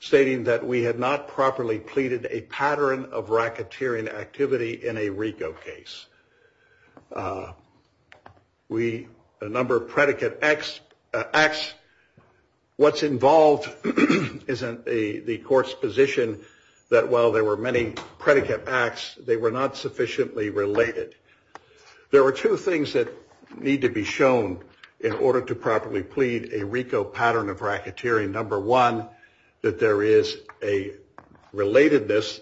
stating that we had not properly pleaded a pattern of racketeering activity in a RICO case. A number of predicate acts, what's involved is the court's position that while there were many predicate acts, they were not sufficiently related. There were two things that need to be shown in order to properly plead a RICO pattern of racketeering. Number one, that there is a relatedness.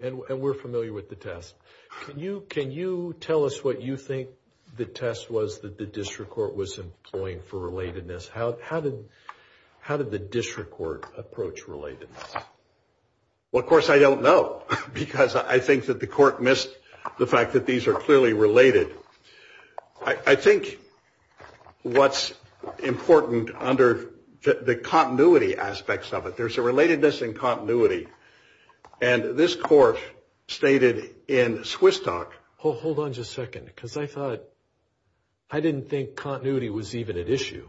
And we're familiar with the test. Can you tell us what you think the test was that the district court was employing for relatedness? How did the district court approach relatedness? Well, of course, I don't know because I think that the court missed the fact that these are clearly related. I think what's important under the continuity aspects of it, there's a relatedness and continuity. And this court stated in Swiss talk. Hold on just a second, because I thought I didn't think continuity was even an issue.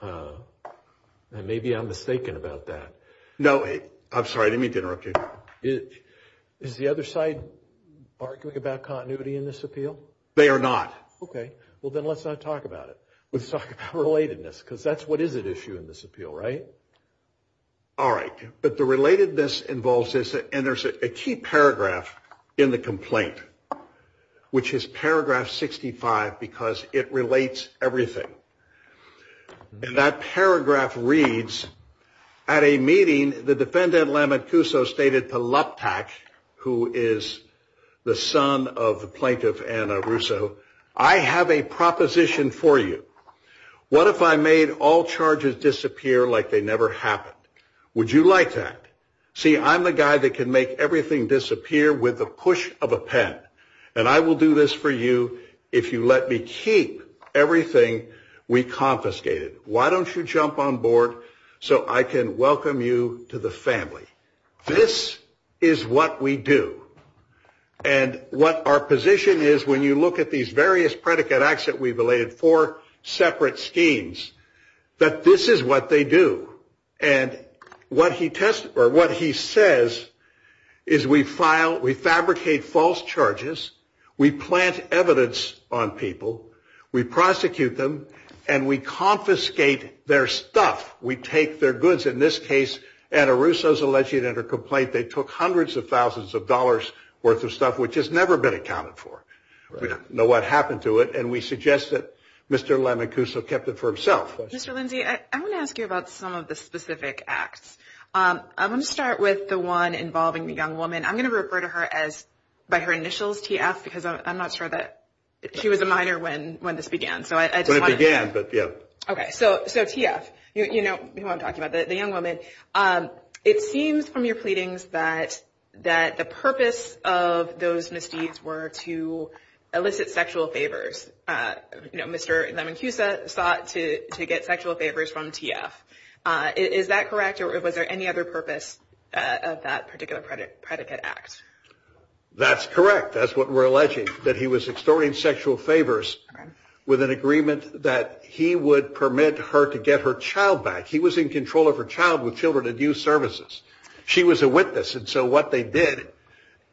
And maybe I'm mistaken about that. No, I'm sorry. I didn't mean to interrupt you. Is the other side arguing about continuity in this appeal? They are not. Okay. Well, then let's not talk about it. Let's talk about relatedness, because that's what is at issue in this appeal, right? All right. But the relatedness involves this. And there's a key paragraph in the complaint, which is paragraph 65, because it relates everything. And that paragraph reads, at a meeting, the defendant stated who is the son of the plaintiff, Anna Russo. I have a proposition for you. What if I made all charges disappear like they never happened? Would you like that? See, I'm the guy that can make everything disappear with the push of a pen. And I will do this for you if you let me keep everything we confiscated. Why don't you jump on board so I can welcome you to the family? This is what we do. And what our position is, when you look at these various predicate acts that we've related, four separate schemes, that this is what they do. And what he says is we fabricate false charges, we plant evidence on people, we prosecute them, and we confiscate their stuff. We take their goods. In this case, Anna Russo's alleged in her complaint they took hundreds of thousands of dollars' worth of stuff, which has never been accounted for. We don't know what happened to it, and we suggest that Mr. Lemicuso kept it for himself. Mr. Lindsey, I want to ask you about some of the specific acts. I want to start with the one involving the young woman. I'm going to refer to her by her initials, TF, because I'm not sure that she was a minor when this began. When it began, but yeah. Okay, so TF, you know who I'm talking about, the young woman. It seems from your pleadings that the purpose of those misdeeds were to elicit sexual favors. Mr. Lemicuso sought to get sexual favors from TF. Is that correct, or was there any other purpose of that particular predicate act? That's correct. That's what we're alleging, that he was extorting sexual favors with an agreement that he would permit her to get her child back. He was in control of her child with Children and Youth Services. She was a witness. And so what they did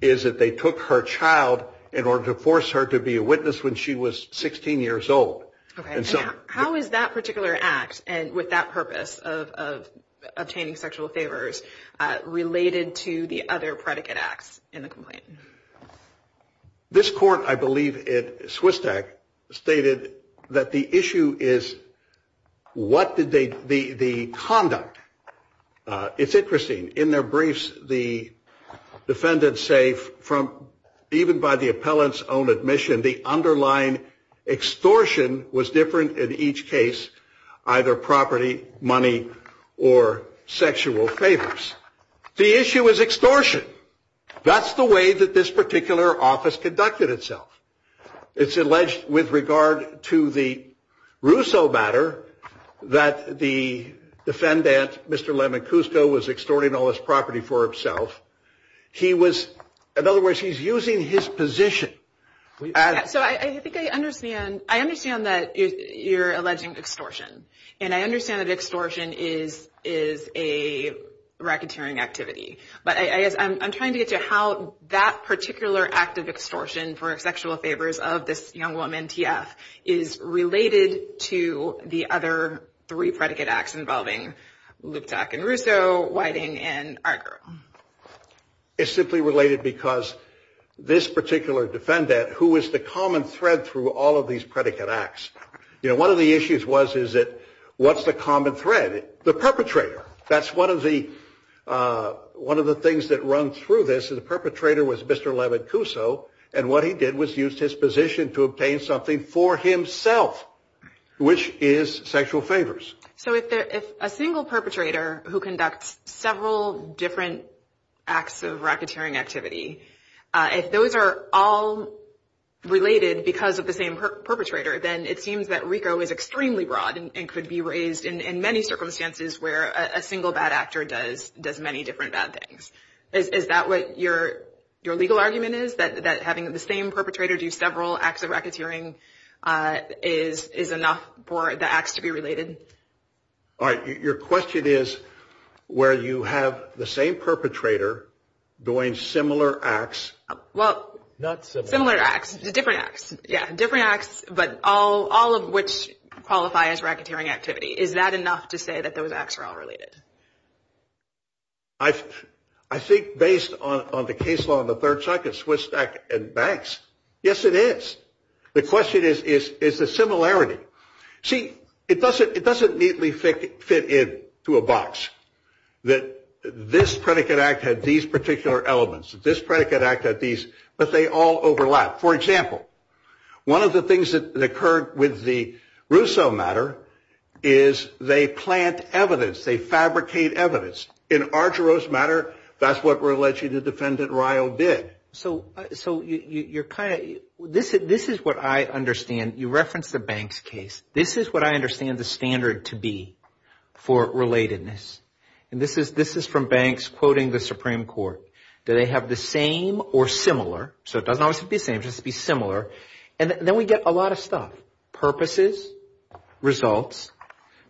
is that they took her child in order to force her to be a witness when she was 16 years old. Okay. How is that particular act, and with that purpose of obtaining sexual favors, related to the other predicate acts in the complaint? This court, I believe, at SWISTAC, stated that the issue is what did they, the conduct. It's interesting. In their briefs, the defendants say even by the appellant's own admission, the underlying extortion was different in each case, either property, money, or sexual favors. The issue is extortion. That's the way that this particular office conducted itself. It's alleged with regard to the Russo matter that the defendant, Mr. Lemon Cusco, was extorting all this property for himself. He was, in other words, he's using his position. So I think I understand. I understand that you're alleging extortion. And I understand that extortion is a racketeering activity. But I guess I'm trying to get to how that particular act of extortion for sexual favors of this young woman, T.F., is related to the other three predicate acts involving Luptak and Russo, Whiting, and Argo. It's simply related because this particular defendant, who was the common thread through all of these predicate acts, one of the issues was is that what's the common thread? The perpetrator. That's one of the things that run through this is the perpetrator was Mr. Lemon Cusco, and what he did was use his position to obtain something for himself, which is sexual favors. So if a single perpetrator who conducts several different acts of racketeering activity, if those are all related because of the same perpetrator, then it seems that RICO is extremely broad and could be raised in many circumstances where a single bad actor does many different bad things. Is that what your legal argument is, that having the same perpetrator do several acts of racketeering is enough for the acts to be related? All right. Your question is where you have the same perpetrator doing similar acts. Well, similar acts. Different acts. Yeah, different acts, but all of which qualify as racketeering activity. Is that enough to say that those acts are all related? I think based on the case law of the Third Circuit, Swiss and banks, yes, it is. The question is, is the similarity. See, it doesn't neatly fit into a box that this predicate act had these particular elements, this predicate act had these, but they all overlap. For example, one of the things that occurred with the Rousseau matter is they plant evidence, they fabricate evidence. In Argyros matter, that's what we're alleging the defendant Rio did. So you're kind of, this is what I understand. You referenced the banks case. This is what I understand the standard to be for relatedness. And this is from banks quoting the Supreme Court. Do they have the same or similar? So it doesn't always have to be the same, it just has to be similar. And then we get a lot of stuff. Purposes, results,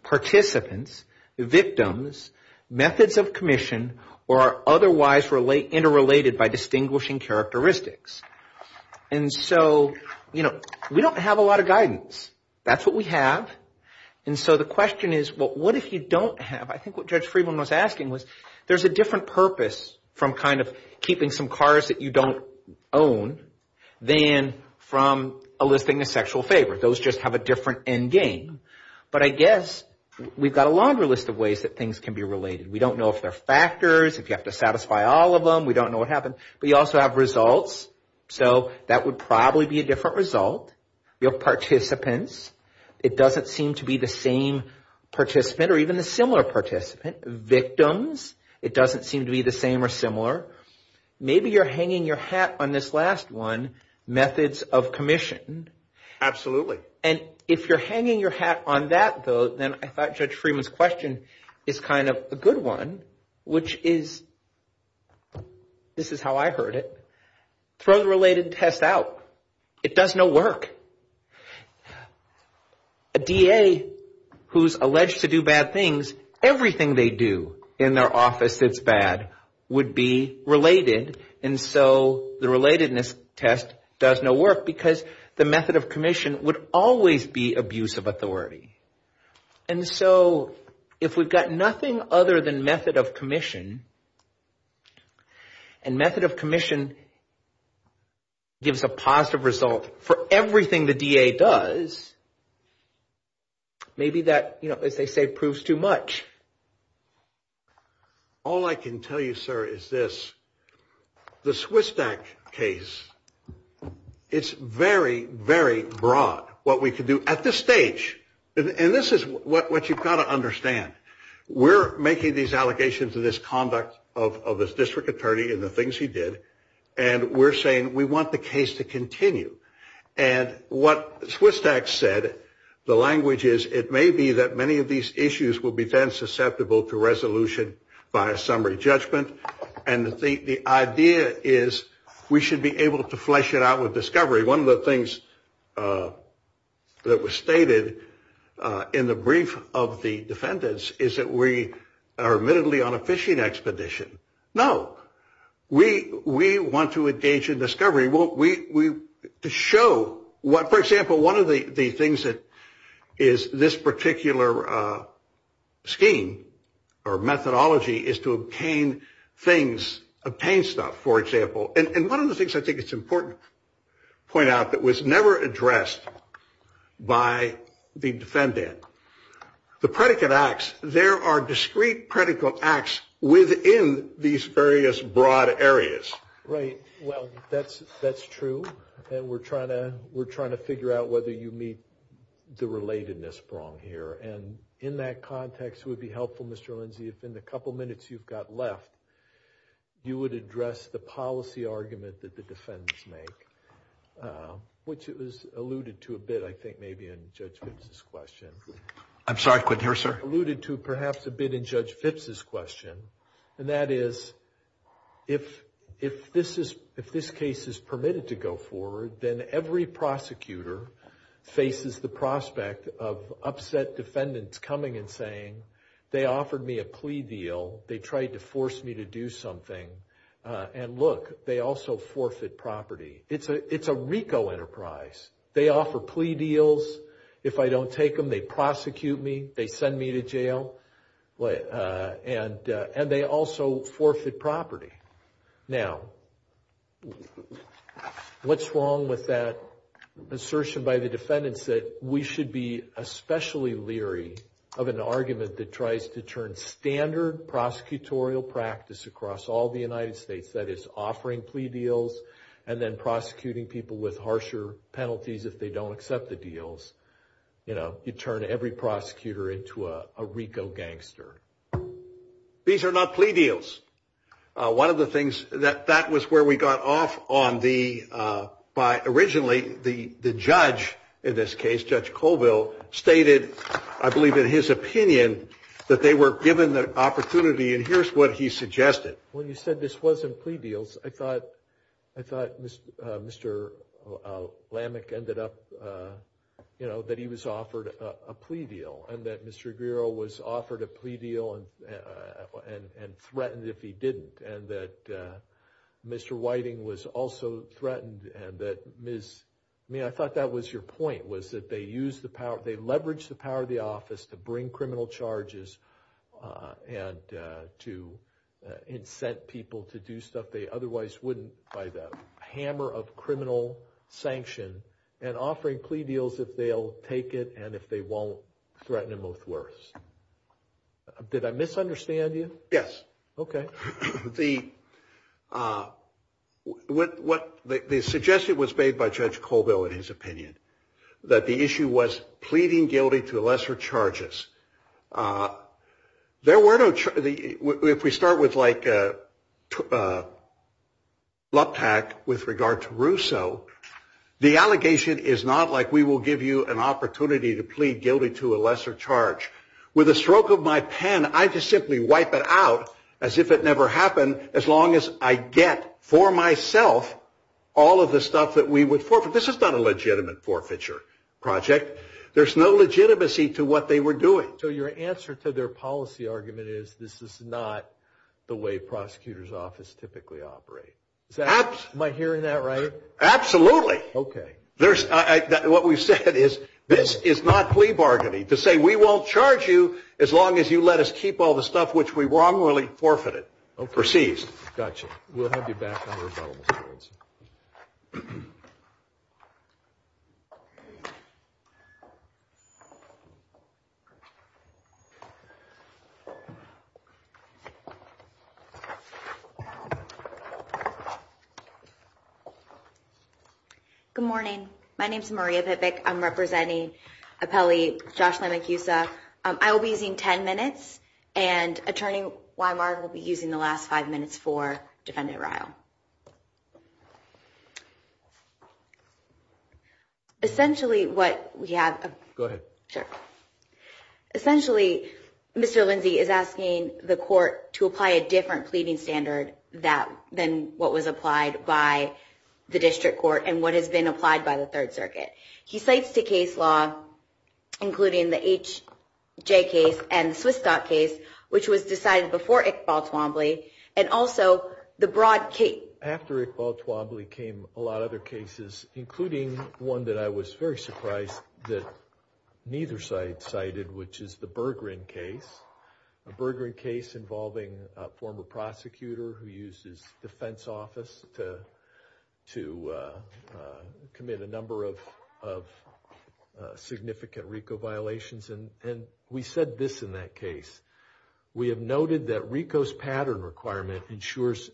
participants, victims, methods of commission, or are otherwise interrelated by distinguishing characteristics. And so, you know, we don't have a lot of guidance. That's what we have. And so the question is, well, what if you don't have? I think what Judge Friedman was asking was there's a different purpose from kind of keeping some cars that you don't own than from eliciting a sexual favor. Those just have a different end game. But I guess we've got a longer list of ways that things can be related. We don't know if they're factors, if you have to satisfy all of them. We don't know what happened. But you also have results. So that would probably be a different result. You have participants. It doesn't seem to be the same participant or even a similar participant. Victims, it doesn't seem to be the same or similar. Maybe you're hanging your hat on this last one, methods of commission. Absolutely. And if you're hanging your hat on that, though, then I thought Judge Friedman's question is kind of a good one, which is, this is how I heard it. Throw the related test out. It does no work. A DA who's alleged to do bad things, everything they do in their office that's bad would be related. And so the relatedness test does no work because the method of commission would always be abuse of authority. And so if we've got nothing other than method of commission, and method of commission gives a positive result for everything the DA does, maybe that, as they say, proves too much. All I can tell you, sir, is this. The Swistak case, it's very, very broad what we can do at this stage. And this is what you've got to understand. We're making these allegations of this conduct of this district attorney and the things he did. And we're saying we want the case to continue. And what Swistak said, the language is, it may be that many of these issues will be then susceptible to resolution by a summary judgment. And the idea is we should be able to flesh it out with discovery. One of the things that was stated in the brief of the defendants is that we are admittedly on a fishing expedition. No. We want to engage in discovery. To show what, for example, one of the things that is this particular scheme or methodology is to obtain things, obtain stuff, for example. And one of the things I think it's important to point out that was never addressed by the defendant, the predicate acts, there are discrete predicate acts within these various broad areas. Right. Well, that's true. And we're trying to figure out whether you meet the relatedness prong here. And in that context, it would be helpful, Mr. Lindsay, if in the couple minutes you've got left, you would address the policy argument that the defendants make, which it was alluded to a bit, I think, maybe in Judge Phipps' question. I'm sorry, I couldn't hear, sir. It was alluded to perhaps a bit in Judge Phipps' question, and that is, if this case is permitted to go forward, then every prosecutor faces the prospect of upset defendants coming and saying, they offered me a plea deal, they tried to force me to do something, and look, they also forfeit property. It's a RICO enterprise. They offer plea deals. If I don't take them, they prosecute me, they send me to jail, and they also forfeit property. Now, what's wrong with that assertion by the defendants that we should be especially leery of an argument that tries to turn standard prosecutorial practice across all the United States, that it's offering plea deals and then prosecuting people with harsher penalties if they don't accept the deals? You know, you turn every prosecutor into a RICO gangster. These are not plea deals. One of the things that that was where we got off on the, by originally, the judge in this case, Judge Colville, stated, I believe in his opinion, that they were given the opportunity, and here's what he suggested. When you said this wasn't plea deals, I thought Mr. Lamech ended up, you know, that he was offered a plea deal, and that Mr. Aguirre was offered a plea deal and threatened if he didn't, and that Mr. Whiting was also threatened, and that Ms., I mean, I thought that was your point, was that they used the power, they leveraged the power of the office to bring criminal charges and to incent people to do stuff they otherwise wouldn't by the hammer of criminal sanction and offering plea deals if they'll take it and if they won't threaten them with worse. Did I misunderstand you? Yes. Okay. The suggestion was made by Judge Colville, in his opinion, that the issue was pleading guilty to lesser charges. There were no charges, if we start with like LUPAC with regard to Rousseau, the allegation is not like we will give you an opportunity to plead guilty to a lesser charge. With a stroke of my pen, I just simply wipe it out as if it never happened, as long as I get for myself all of the stuff that we would forfeit. This is not a legitimate forfeiture project. There's no legitimacy to what they were doing. So your answer to their policy argument is this is not the way prosecutors' office typically operates. Am I hearing that right? Absolutely. Okay. What we've said is this is not plea bargaining to say we won't charge you as long as you let us keep all the stuff which we wrongly forfeited or seized. Gotcha. Okay. We'll have you back on the rebuttal boards. Good morning. My name is Maria Pipic. I'm representing appellee Josh Lamacusa. I will be using 10 minutes, and Attorney Weimar will be using the last five minutes for Defendant Ryle. Essentially, what we have... Go ahead. Sure. Essentially, Mr. Lindsay is asking the court to apply a different pleading standard than what was applied by the district court and what has been applied by the Third Circuit. He cites the case law, including the H.J. case and the Swistok case, which was decided before Iqbal Twombly, and also the broad case... After Iqbal Twombly came a lot of other cases, including one that I was very surprised that neither side cited, which is the Berggren case, a Berggren case involving a former prosecutor who used his defense office to commit a number of significant RICO violations. And we said this in that case. We have noted that RICO's pattern requirement ensures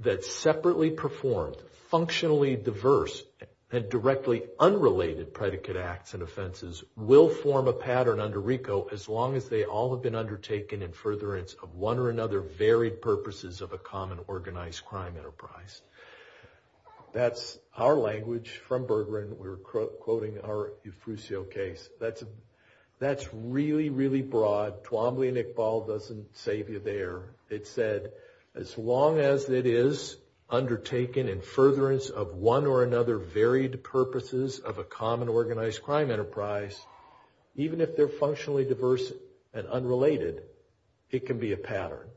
that separately performed, functionally diverse, and directly unrelated predicate acts and offenses will form a pattern under RICO as long as they all have been undertaken in furtherance of one or another varied purposes of a common organized crime enterprise. That's our language from Berggren. We're quoting our Eufusio case. That's really, really broad. Twombly and Iqbal doesn't save you there. It said, as long as it is undertaken in furtherance of one or another varied purposes of a common organized crime enterprise, even if they're functionally diverse and unrelated, it can be a pattern.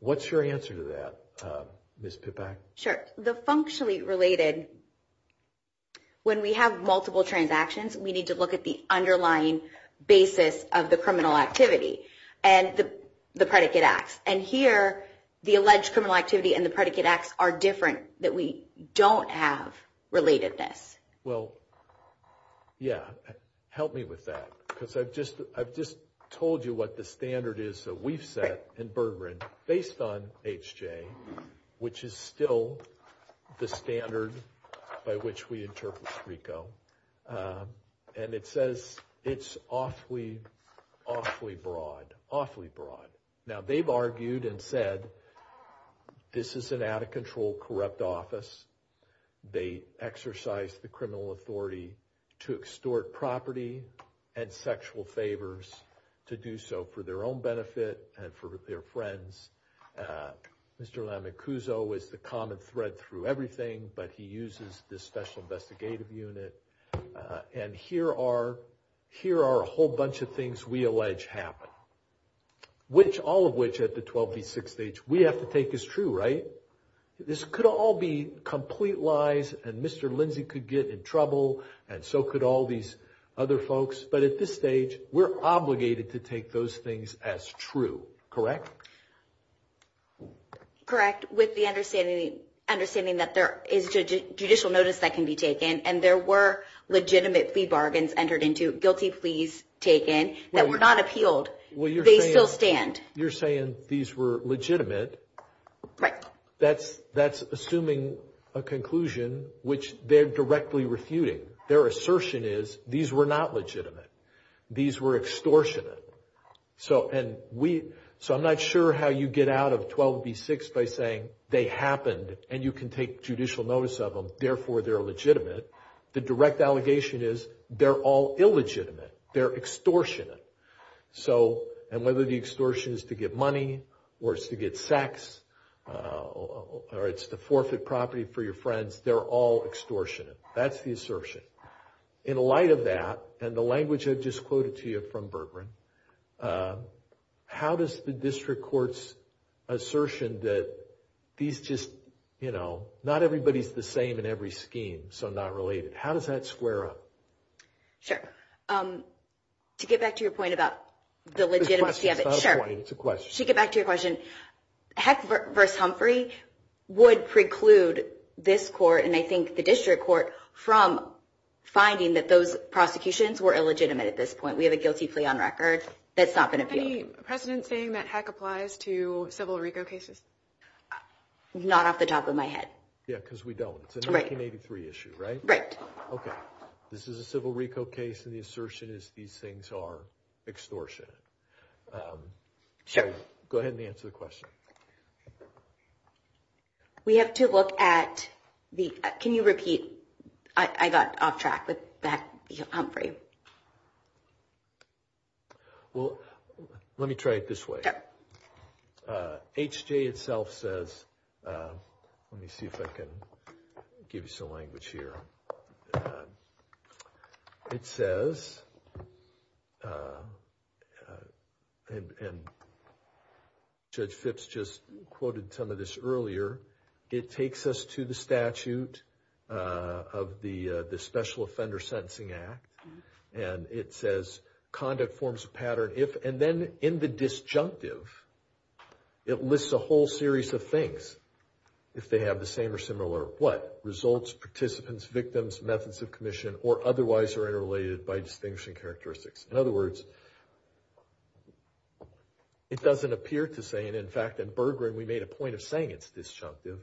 What's your answer to that, Ms. Pipak? Sure. The functionally related... When we have multiple transactions, we need to look at the underlying basis of the criminal activity and the predicate acts. And here, the alleged criminal activity and the predicate acts are different, that we don't have relatedness. Well, yeah. Help me with that because I've just told you what the standard is that we've set in Berggren based on H.J., which is still the standard by which we interpret RICO. And it says it's awfully, awfully broad, awfully broad. Now, they've argued and said this is an out-of-control corrupt office. They exercise the criminal authority to extort property and sexual favors to do so for their own benefit and for their friends. Mr. Lamicuzzo is the common thread through everything, but he uses this special investigative unit. And here are a whole bunch of things we allege happen, all of which at the 12v6 stage we have to take as true, right? This could all be complete lies, and Mr. Lindsey could get in trouble, and so could all these other folks. But at this stage, we're obligated to take those things as true, correct? Correct, with the understanding that there is judicial notice that can be taken, and there were legitimate plea bargains entered into, guilty pleas taken, that were not appealed. They still stand. You're saying these were legitimate. Right. That's assuming a conclusion which they're directly refuting. Their assertion is these were not legitimate. These were extortionate. So I'm not sure how you get out of 12v6 by saying they happened and you can take judicial notice of them, therefore they're legitimate. The direct allegation is they're all illegitimate. They're extortionate. And whether the extortion is to get money or it's to get sex or it's to forfeit property for your friends, they're all extortionate. That's the assertion. In light of that, and the language I've just quoted to you from Bertrand, how does the district court's assertion that these just, you know, not everybody's the same in every scheme, so not related, how does that square up? Sure. To get back to your point about the legitimacy of it, sure. It's a question. To get back to your question, Heck v. Humphrey would preclude this court and I think the district court from finding that those prosecutions were illegitimate at this point. We have a guilty plea on record that's not been appealed. Any precedent saying that Heck applies to Civil Rico cases? Not off the top of my head. Yeah, because we don't. It's a 1983 issue, right? Right. Okay. This is a Civil Rico case and the assertion is these things are extortionate. Sure. Go ahead and answer the question. We have to look at the, can you repeat, I got off track with Heck v. Humphrey. Well, let me try it this way. Sure. H.J. itself says, let me see if I can give you some language here. It says, and Judge Phipps just quoted some of this earlier, it takes us to the statute of the Special Offender Sentencing Act. And it says, conduct forms a pattern if, and then in the disjunctive, it lists a whole series of things. If they have the same or similar what? Results, participants, victims, methods of commission, or otherwise are interrelated by distinguishing characteristics. In other words, it doesn't appear to say, and in fact in Bergeron we made a point of saying it's disjunctive.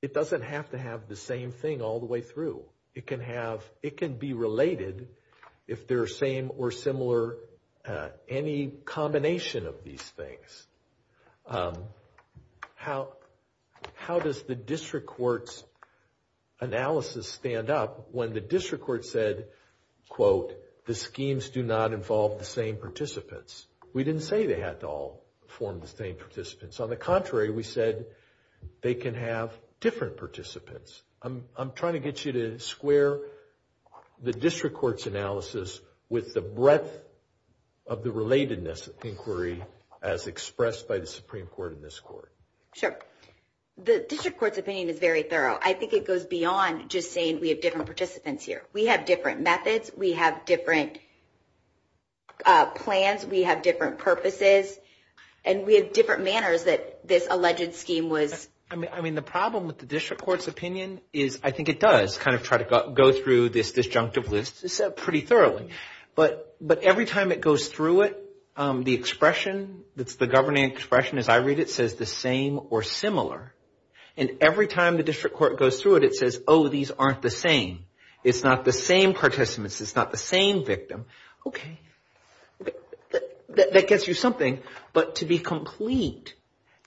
It doesn't have to have the same thing all the way through. It can be related if they're same or similar, any combination of these things. How does the district court's analysis stand up when the district court said, quote, the schemes do not involve the same participants? We didn't say they had to all form the same participants. On the contrary, we said they can have different participants. I'm trying to get you to square the district court's analysis with the breadth of the relatedness inquiry as expressed by the Supreme Court in this court. Sure. The district court's opinion is very thorough. I think it goes beyond just saying we have different participants here. We have different methods. We have different plans. We have different purposes. And we have different manners that this alleged scheme was. I mean, the problem with the district court's opinion is I think it does kind of try to go through this disjunctive list pretty thoroughly. But every time it goes through it, the expression that's the governing expression as I read it says the same or similar. And every time the district court goes through it, it says, oh, these aren't the same. It's not the same participants. It's not the same victim. Okay. That gets you something. But to be complete,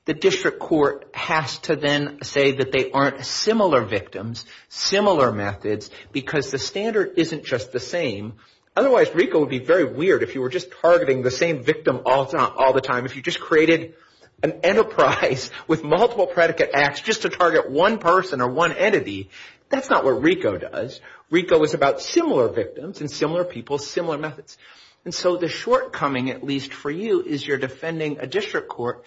the district court has to then say that they aren't similar victims, similar methods, because the standard isn't just the same. Otherwise, RICO would be very weird if you were just targeting the same victim all the time. If you just created an enterprise with multiple predicate acts just to target one person or one entity, that's not what RICO does. RICO is about similar victims and similar people, similar methods. And so the shortcoming, at least for you, is you're defending a district court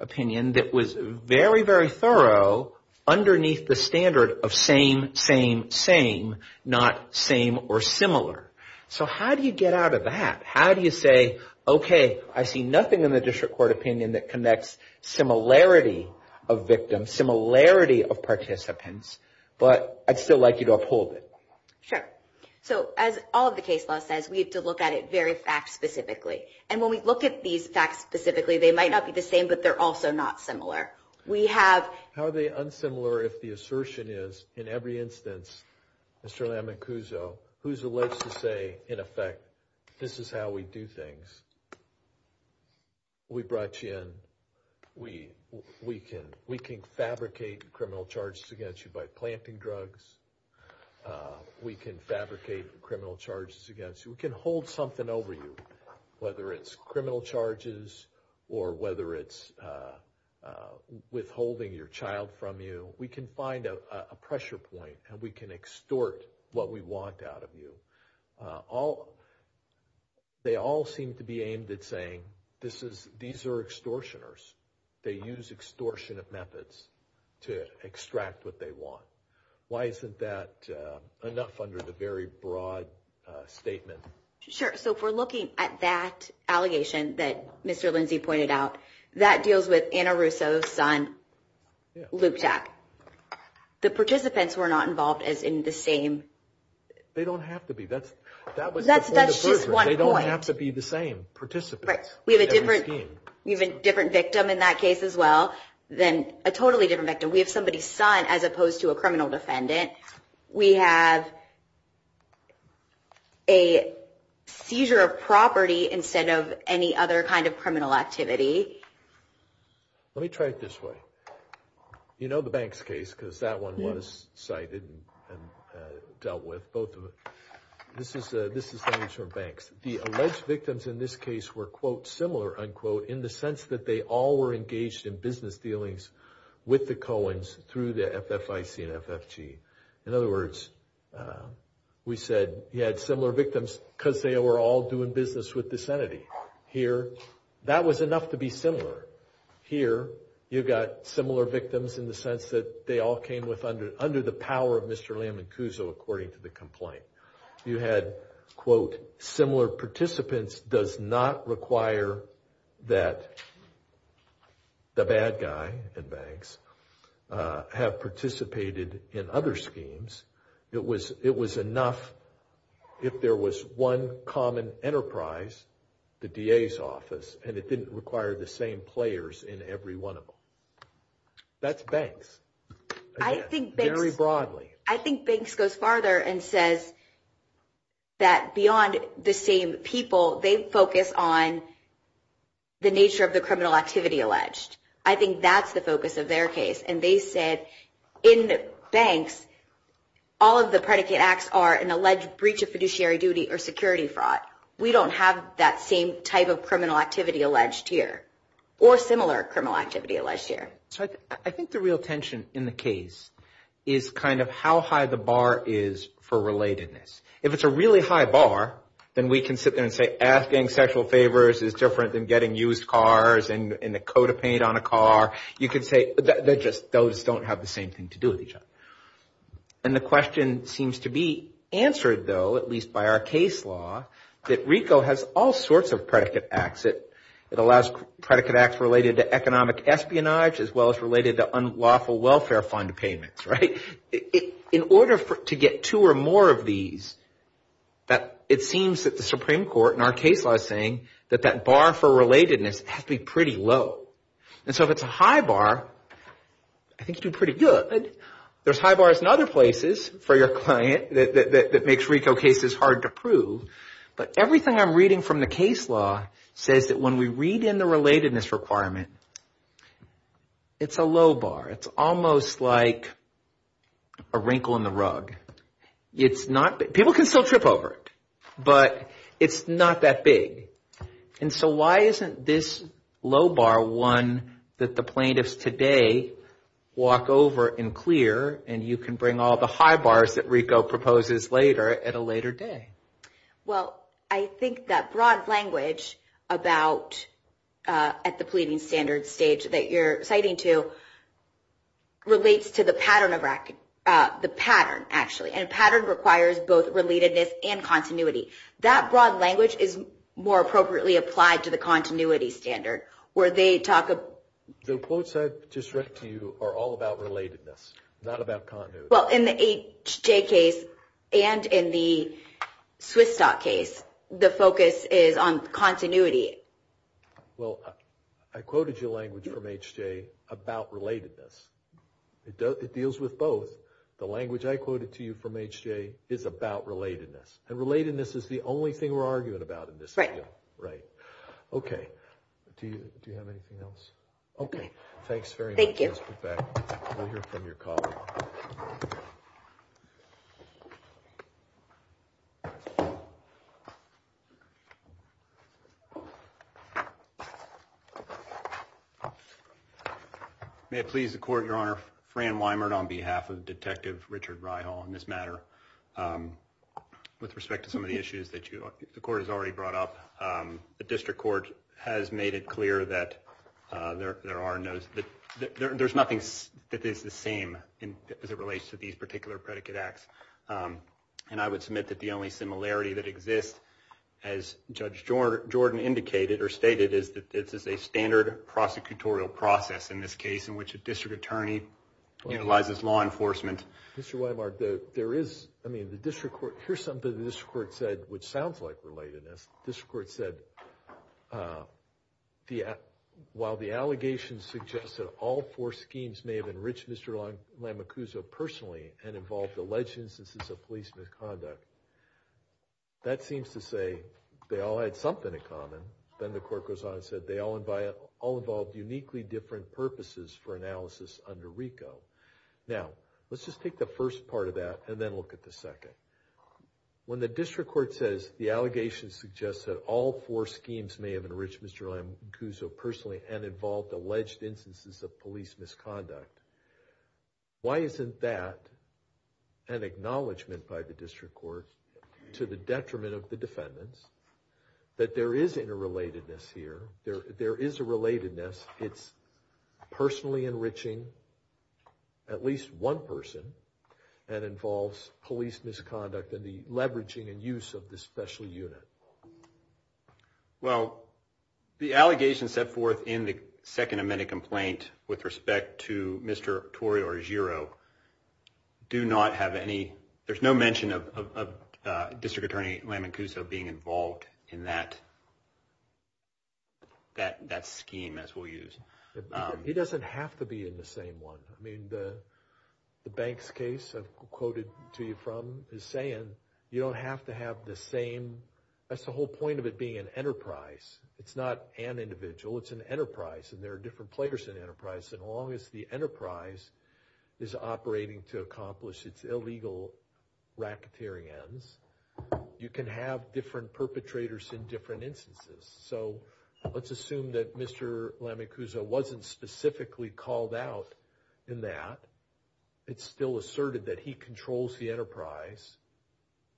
opinion that was very, very thorough underneath the standard of same, same, same, not same or similar. So how do you get out of that? How do you say, okay, I see nothing in the district court opinion that connects similarity of victims, similarity of participants, but I'd still like you to uphold it. Sure. So as all of the case law says, we have to look at it very fact-specifically. And when we look at these facts specifically, they might not be the same, but they're also not similar. How are they unsimilar if the assertion is, in every instance, Mr. Lamancuzzo, who's alleged to say, in effect, this is how we do things. We brought you in. We can fabricate criminal charges against you by planting drugs. We can fabricate criminal charges against you. We can hold something over you, whether it's criminal charges or whether it's withholding your child from you. We can find a pressure point, and we can extort what we want out of you. They all seem to be aimed at saying, these are extortioners. They use extortionist methods to extract what they want. Why isn't that enough under the very broad statement? Sure. So if we're looking at that allegation that Mr. Lindsay pointed out, that deals with Anna Russo's son, Loupchak. The participants were not involved as in the same. They don't have to be. That's just one point. They don't have to be the same participants. We have a different victim in that case as well, a totally different victim. We have somebody's son as opposed to a criminal defendant. We have a seizure of property instead of any other kind of criminal activity. Let me try it this way. You know the Banks case because that one was cited and dealt with, both of them. This is from Banks. The alleged victims in this case were, quote, similar, unquote, in the sense that they all were engaged in business dealings with the Coens through the FFIC and FFG. In other words, we said you had similar victims because they were all doing business with this entity. Here, that was enough to be similar. Here, you've got similar victims in the sense that they all came under the power of Mr. Lamincuso, according to the complaint. You had, quote, similar participants does not require that the bad guy in Banks have participated in other schemes. It was enough if there was one common enterprise, the DA's office, and it didn't require the same players in every one of them. That's Banks, again, very broadly. I think Banks goes farther and says that beyond the same people, they focus on the nature of the criminal activity alleged. I think that's the focus of their case. And they said in Banks, all of the predicate acts are an alleged breach of fiduciary duty or security fraud. We don't have that same type of criminal activity alleged here or similar criminal activity alleged here. I think the real tension in the case is kind of how high the bar is for relatedness. If it's a really high bar, then we can sit there and say asking sexual favors is different than getting used cars and a coat of paint on a car. You could say they just don't have the same thing to do with each other. And the question seems to be answered, though, at least by our case law, that RICO has all sorts of predicate acts. It allows predicate acts related to economic espionage as well as related to unlawful welfare fund payments. In order to get two or more of these, it seems that the Supreme Court in our case law is saying that that bar for relatedness has to be pretty low. And so if it's a high bar, I think you do pretty good. There's high bars in other places for your client that makes RICO cases hard to prove. But everything I'm reading from the case law says that when we read in the relatedness requirement, it's a low bar. It's almost like a wrinkle in the rug. People can still trip over it, but it's not that big. And so why isn't this low bar one that the plaintiffs today walk over and clear and you can bring all the high bars that RICO proposes later at a later day? Well, I think that broad language at the pleading standards stage that you're citing to relates to the pattern, actually. And a pattern requires both relatedness and continuity. That broad language is more appropriately applied to the continuity standard where they talk about... The quotes I just read to you are all about relatedness, not about continuity. Well, in the H.J. case and in the Swiss stock case, the focus is on continuity. Well, I quoted your language from H.J. about relatedness. It deals with both. The language I quoted to you from H.J. is about relatedness. And relatedness is the only thing we're arguing about in this. Right. Right. Okay. Do you have anything else? Okay. Thanks very much. Thank you. We'll hear from your colleague. May it please the court, Your Honor. on behalf of Detective Richard Rihal in this matter. With respect to some of the issues that the court has already brought up, the district court has made it clear that there are no... There's nothing that is the same as it relates to these particular predicate acts. And I would submit that the only similarity that exists, as Judge Jordan indicated or stated, is that this is a standard prosecutorial process in this case in which a district attorney utilizes law enforcement. Mr. Weimar, there is... I mean, the district court... Here's something the district court said which sounds like relatedness. The district court said, while the allegations suggest that all four schemes may have enriched Mr. Lamacuzzo personally and involved alleged instances of police misconduct, that seems to say they all had something in common. Then the court goes on and said they all involved uniquely different purposes for analysis under RICO. Now, let's just take the first part of that and then look at the second. When the district court says the allegations suggest that all four schemes may have enriched Mr. Lamacuzzo personally and involved alleged instances of police misconduct, why isn't that an acknowledgment by the district court to the detriment of the defendants that there is interrelatedness here? There is a relatedness. It's personally enriching at least one person and involves police misconduct and the leveraging and use of this special unit. Well, the allegations set forth in the Second Amendment complaint with respect to Mr. Tory or Giro do not have any... Mr. Lamacuzzo being involved in that scheme as we'll use. He doesn't have to be in the same one. I mean, the Banks case I've quoted to you from is saying you don't have to have the same... That's the whole point of it being an enterprise. It's not an individual. It's an enterprise, and there are different players in enterprise. And as long as the enterprise is operating to accomplish its illegal racketeering ends, you can have different perpetrators in different instances. So let's assume that Mr. Lamacuzzo wasn't specifically called out in that. It's still asserted that he controls the enterprise.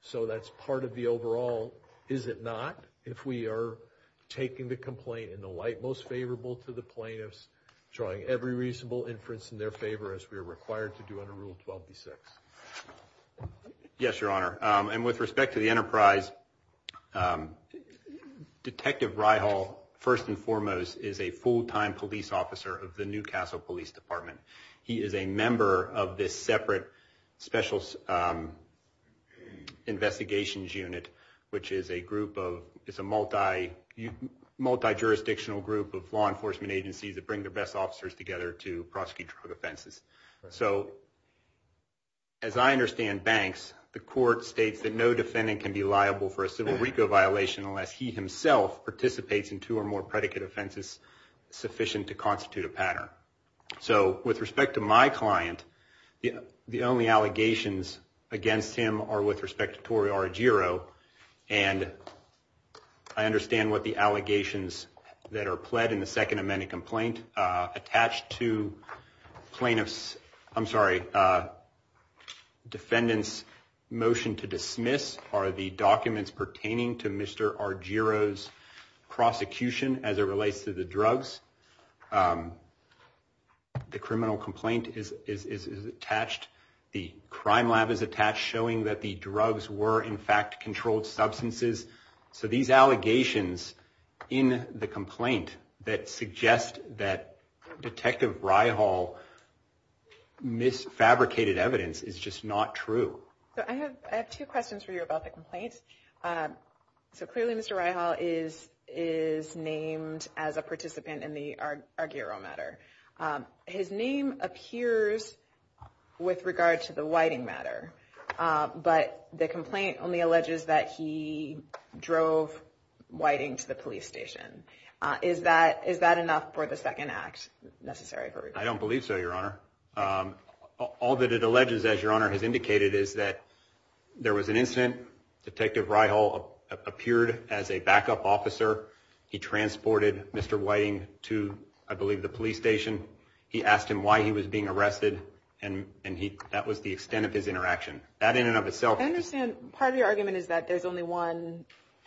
So that's part of the overall... If we are taking the complaint in the light most favorable to the plaintiffs, drawing every reasonable inference in their favor as we are required to do under Rule 12b-6. Yes, Your Honor. And with respect to the enterprise, Detective Reihal, first and foremost, is a full-time police officer of the Newcastle Police Department. He is a member of this separate special investigations unit, which is a multi-jurisdictional group of law enforcement agencies that bring their best officers together to prosecute drug offenses. So as I understand Banks, the court states that no defendant can be liable for a civil RICO violation unless he himself participates in two or more predicate offenses sufficient to constitute a pattern. So with respect to my client, the only allegations against him are with respect to Tori Argyro. And I understand what the allegations that are pled in the Second Amendment complaint attached to plaintiff's... I'm sorry. Defendant's motion to dismiss are the documents pertaining to Mr. Argyro's prosecution as it relates to the drugs. The criminal complaint is attached. The crime lab is attached, showing that the drugs were, in fact, controlled substances. So these allegations in the complaint that suggest that Detective Reihal misfabricated evidence is just not true. I have two questions for you about the complaint. So clearly Mr. Reihal is named as a participant in the Argyro matter. His name appears with regard to the Whiting matter, but the complaint only alleges that he drove Whiting to the police station. Is that enough for the second act necessary? I don't believe so, Your Honor. All that it alleges, as Your Honor has indicated, is that there was an incident. Detective Reihal appeared as a backup officer. He transported Mr. Whiting to, I believe, the police station. He asked him why he was being arrested, and that was the extent of his interaction. That in and of itself... I understand part of your argument is that there's only one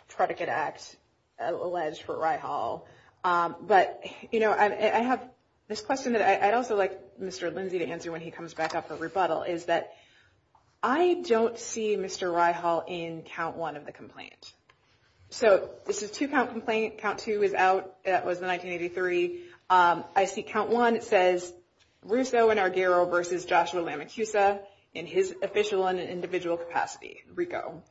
predicate act alleged for Reihal. But, you know, I have this question that I'd also like Mr. Lindsay to answer when he comes back up for rebuttal, is that I don't see Mr. Reihal in count one of the complaint. So this is two-count complaint. Count two is out. That was in 1983. I see count one. It says, Russo and Argyro versus Joshua Lamacusa in his official and individual capacity, RICO.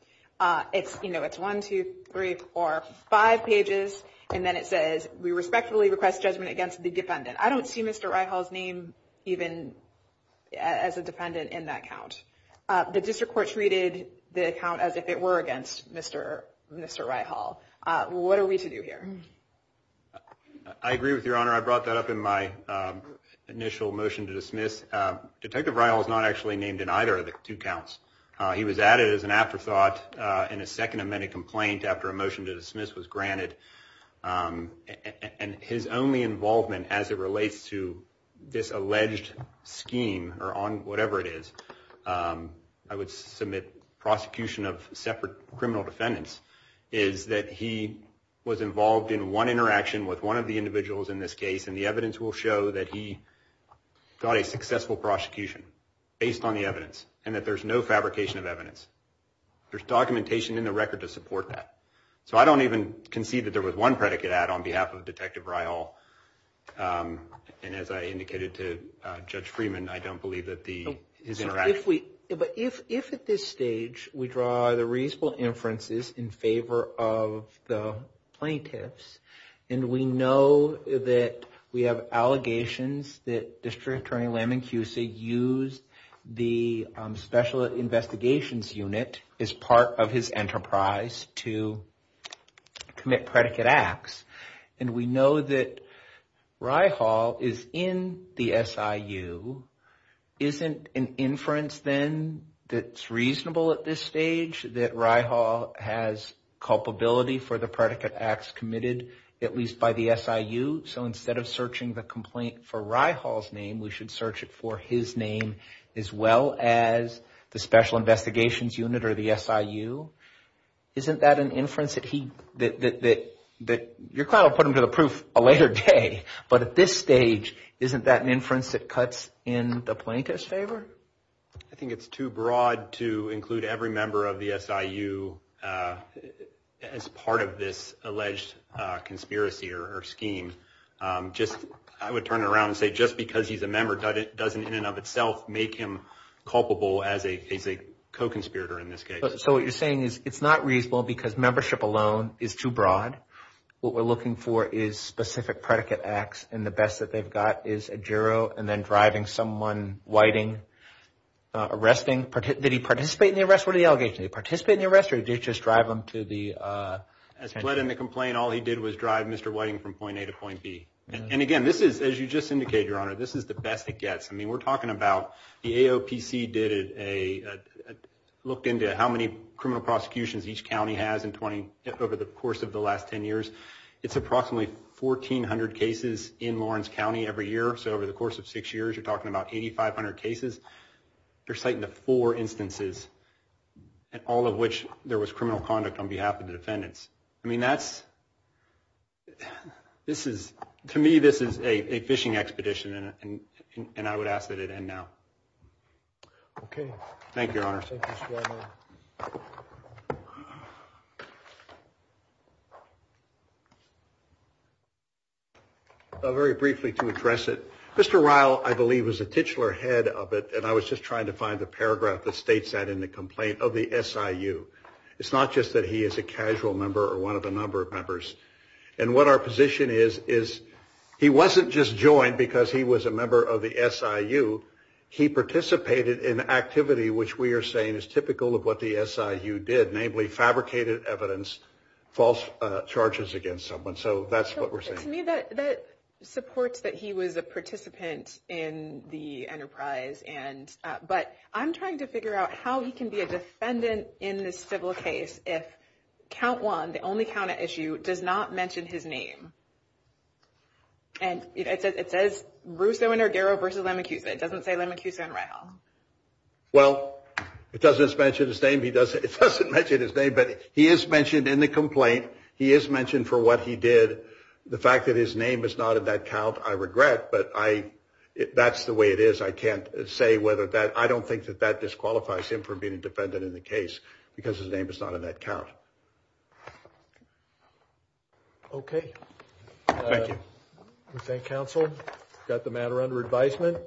It's one, two, three, four, five pages, and then it says, we respectfully request judgment against the defendant. I don't see Mr. Reihal's name even as a defendant in that count. The district court treated the count as if it were against Mr. Reihal. What are we to do here? I agree with you, Your Honor. I brought that up in my initial motion to dismiss. Detective Reihal is not actually named in either of the two counts. He was added as an afterthought in a second amended complaint after a motion to dismiss was granted. His only involvement as it relates to this alleged scheme, or whatever it is, I would submit prosecution of separate criminal defendants, is that he was involved in one interaction with one of the individuals in this case, and the evidence will show that he got a successful prosecution based on the evidence and that there's no fabrication of evidence. There's documentation in the record to support that. So I don't even concede that there was one predicate add on behalf of Detective Reihal, and as I indicated to Judge Freeman, I don't believe that his interaction. But if at this stage we draw the reasonable inferences in favor of the plaintiffs, and we know that we have allegations that District Attorney Lamincusi used the Special Investigations Unit as part of his enterprise to commit predicate acts, and we know that Reihal is in the SIU, isn't an inference then that's reasonable at this stage that Reihal has culpability for the predicate acts committed, at least by the SIU? So instead of searching the complaint for Reihal's name, we should search it for his name as well as the Special Investigations Unit or the SIU? Isn't that an inference that he, that your client will put him to the proof a later day, but at this stage isn't that an inference that cuts in the plaintiff's favor? I think it's too broad to include every member of the SIU as part of this alleged conspiracy or scheme. I would turn it around and say just because he's a member doesn't in and of itself make him culpable as a co-conspirator in this case. So what you're saying is it's not reasonable because membership alone is too broad. What we're looking for is specific predicate acts, and the best that they've got is a juror and then driving someone whiting, arresting. Did he participate in the arrest? What are the allegations? Did he participate in the arrest or did he just drive him to the… As he led in the complaint, all he did was drive Mr. Whiting from point A to point B. And again, this is, as you just indicated, Your Honor, this is the best it gets. I mean we're talking about the AOPC did a look into how many criminal prosecutions each county has in 20, over the course of the last 10 years. It's approximately 1,400 cases in Lawrence County every year. So over the course of six years, you're talking about 8,500 cases. They're citing the four instances, all of which there was criminal conduct on behalf of the defendants. I mean that's, this is, to me this is a fishing expedition and I would ask that it end now. Okay. Thank you, Your Honor. Thank you, Mr. Weinberg. Very briefly to address it, Mr. Ryle, I believe, was the titular head of it and I was just trying to find the paragraph that states that in the complaint of the SIU. It's not just that he is a casual member or one of a number of members. And what our position is, is he wasn't just joined because he was a member of the SIU. He participated in activity which we are saying is typical of what the SIU did, namely fabricated evidence, false charges against someone. So that's what we're saying. To me, that supports that he was a participant in the enterprise. But I'm trying to figure out how he can be a defendant in this civil case if count one, the only count at SIU, does not mention his name. And it says Russo and Argero versus Lemicuza. It doesn't say Lemicuza and Ryle. Well, it doesn't mention his name. It doesn't mention his name, but he is mentioned in the complaint. He is mentioned for what he did. The fact that his name is not in that count, I regret, but that's the way it is. I can't say whether that – I don't think that that disqualifies him from being a defendant in the case because his name is not in that count. Okay. Thank you. We thank counsel. Got the matter under advisement.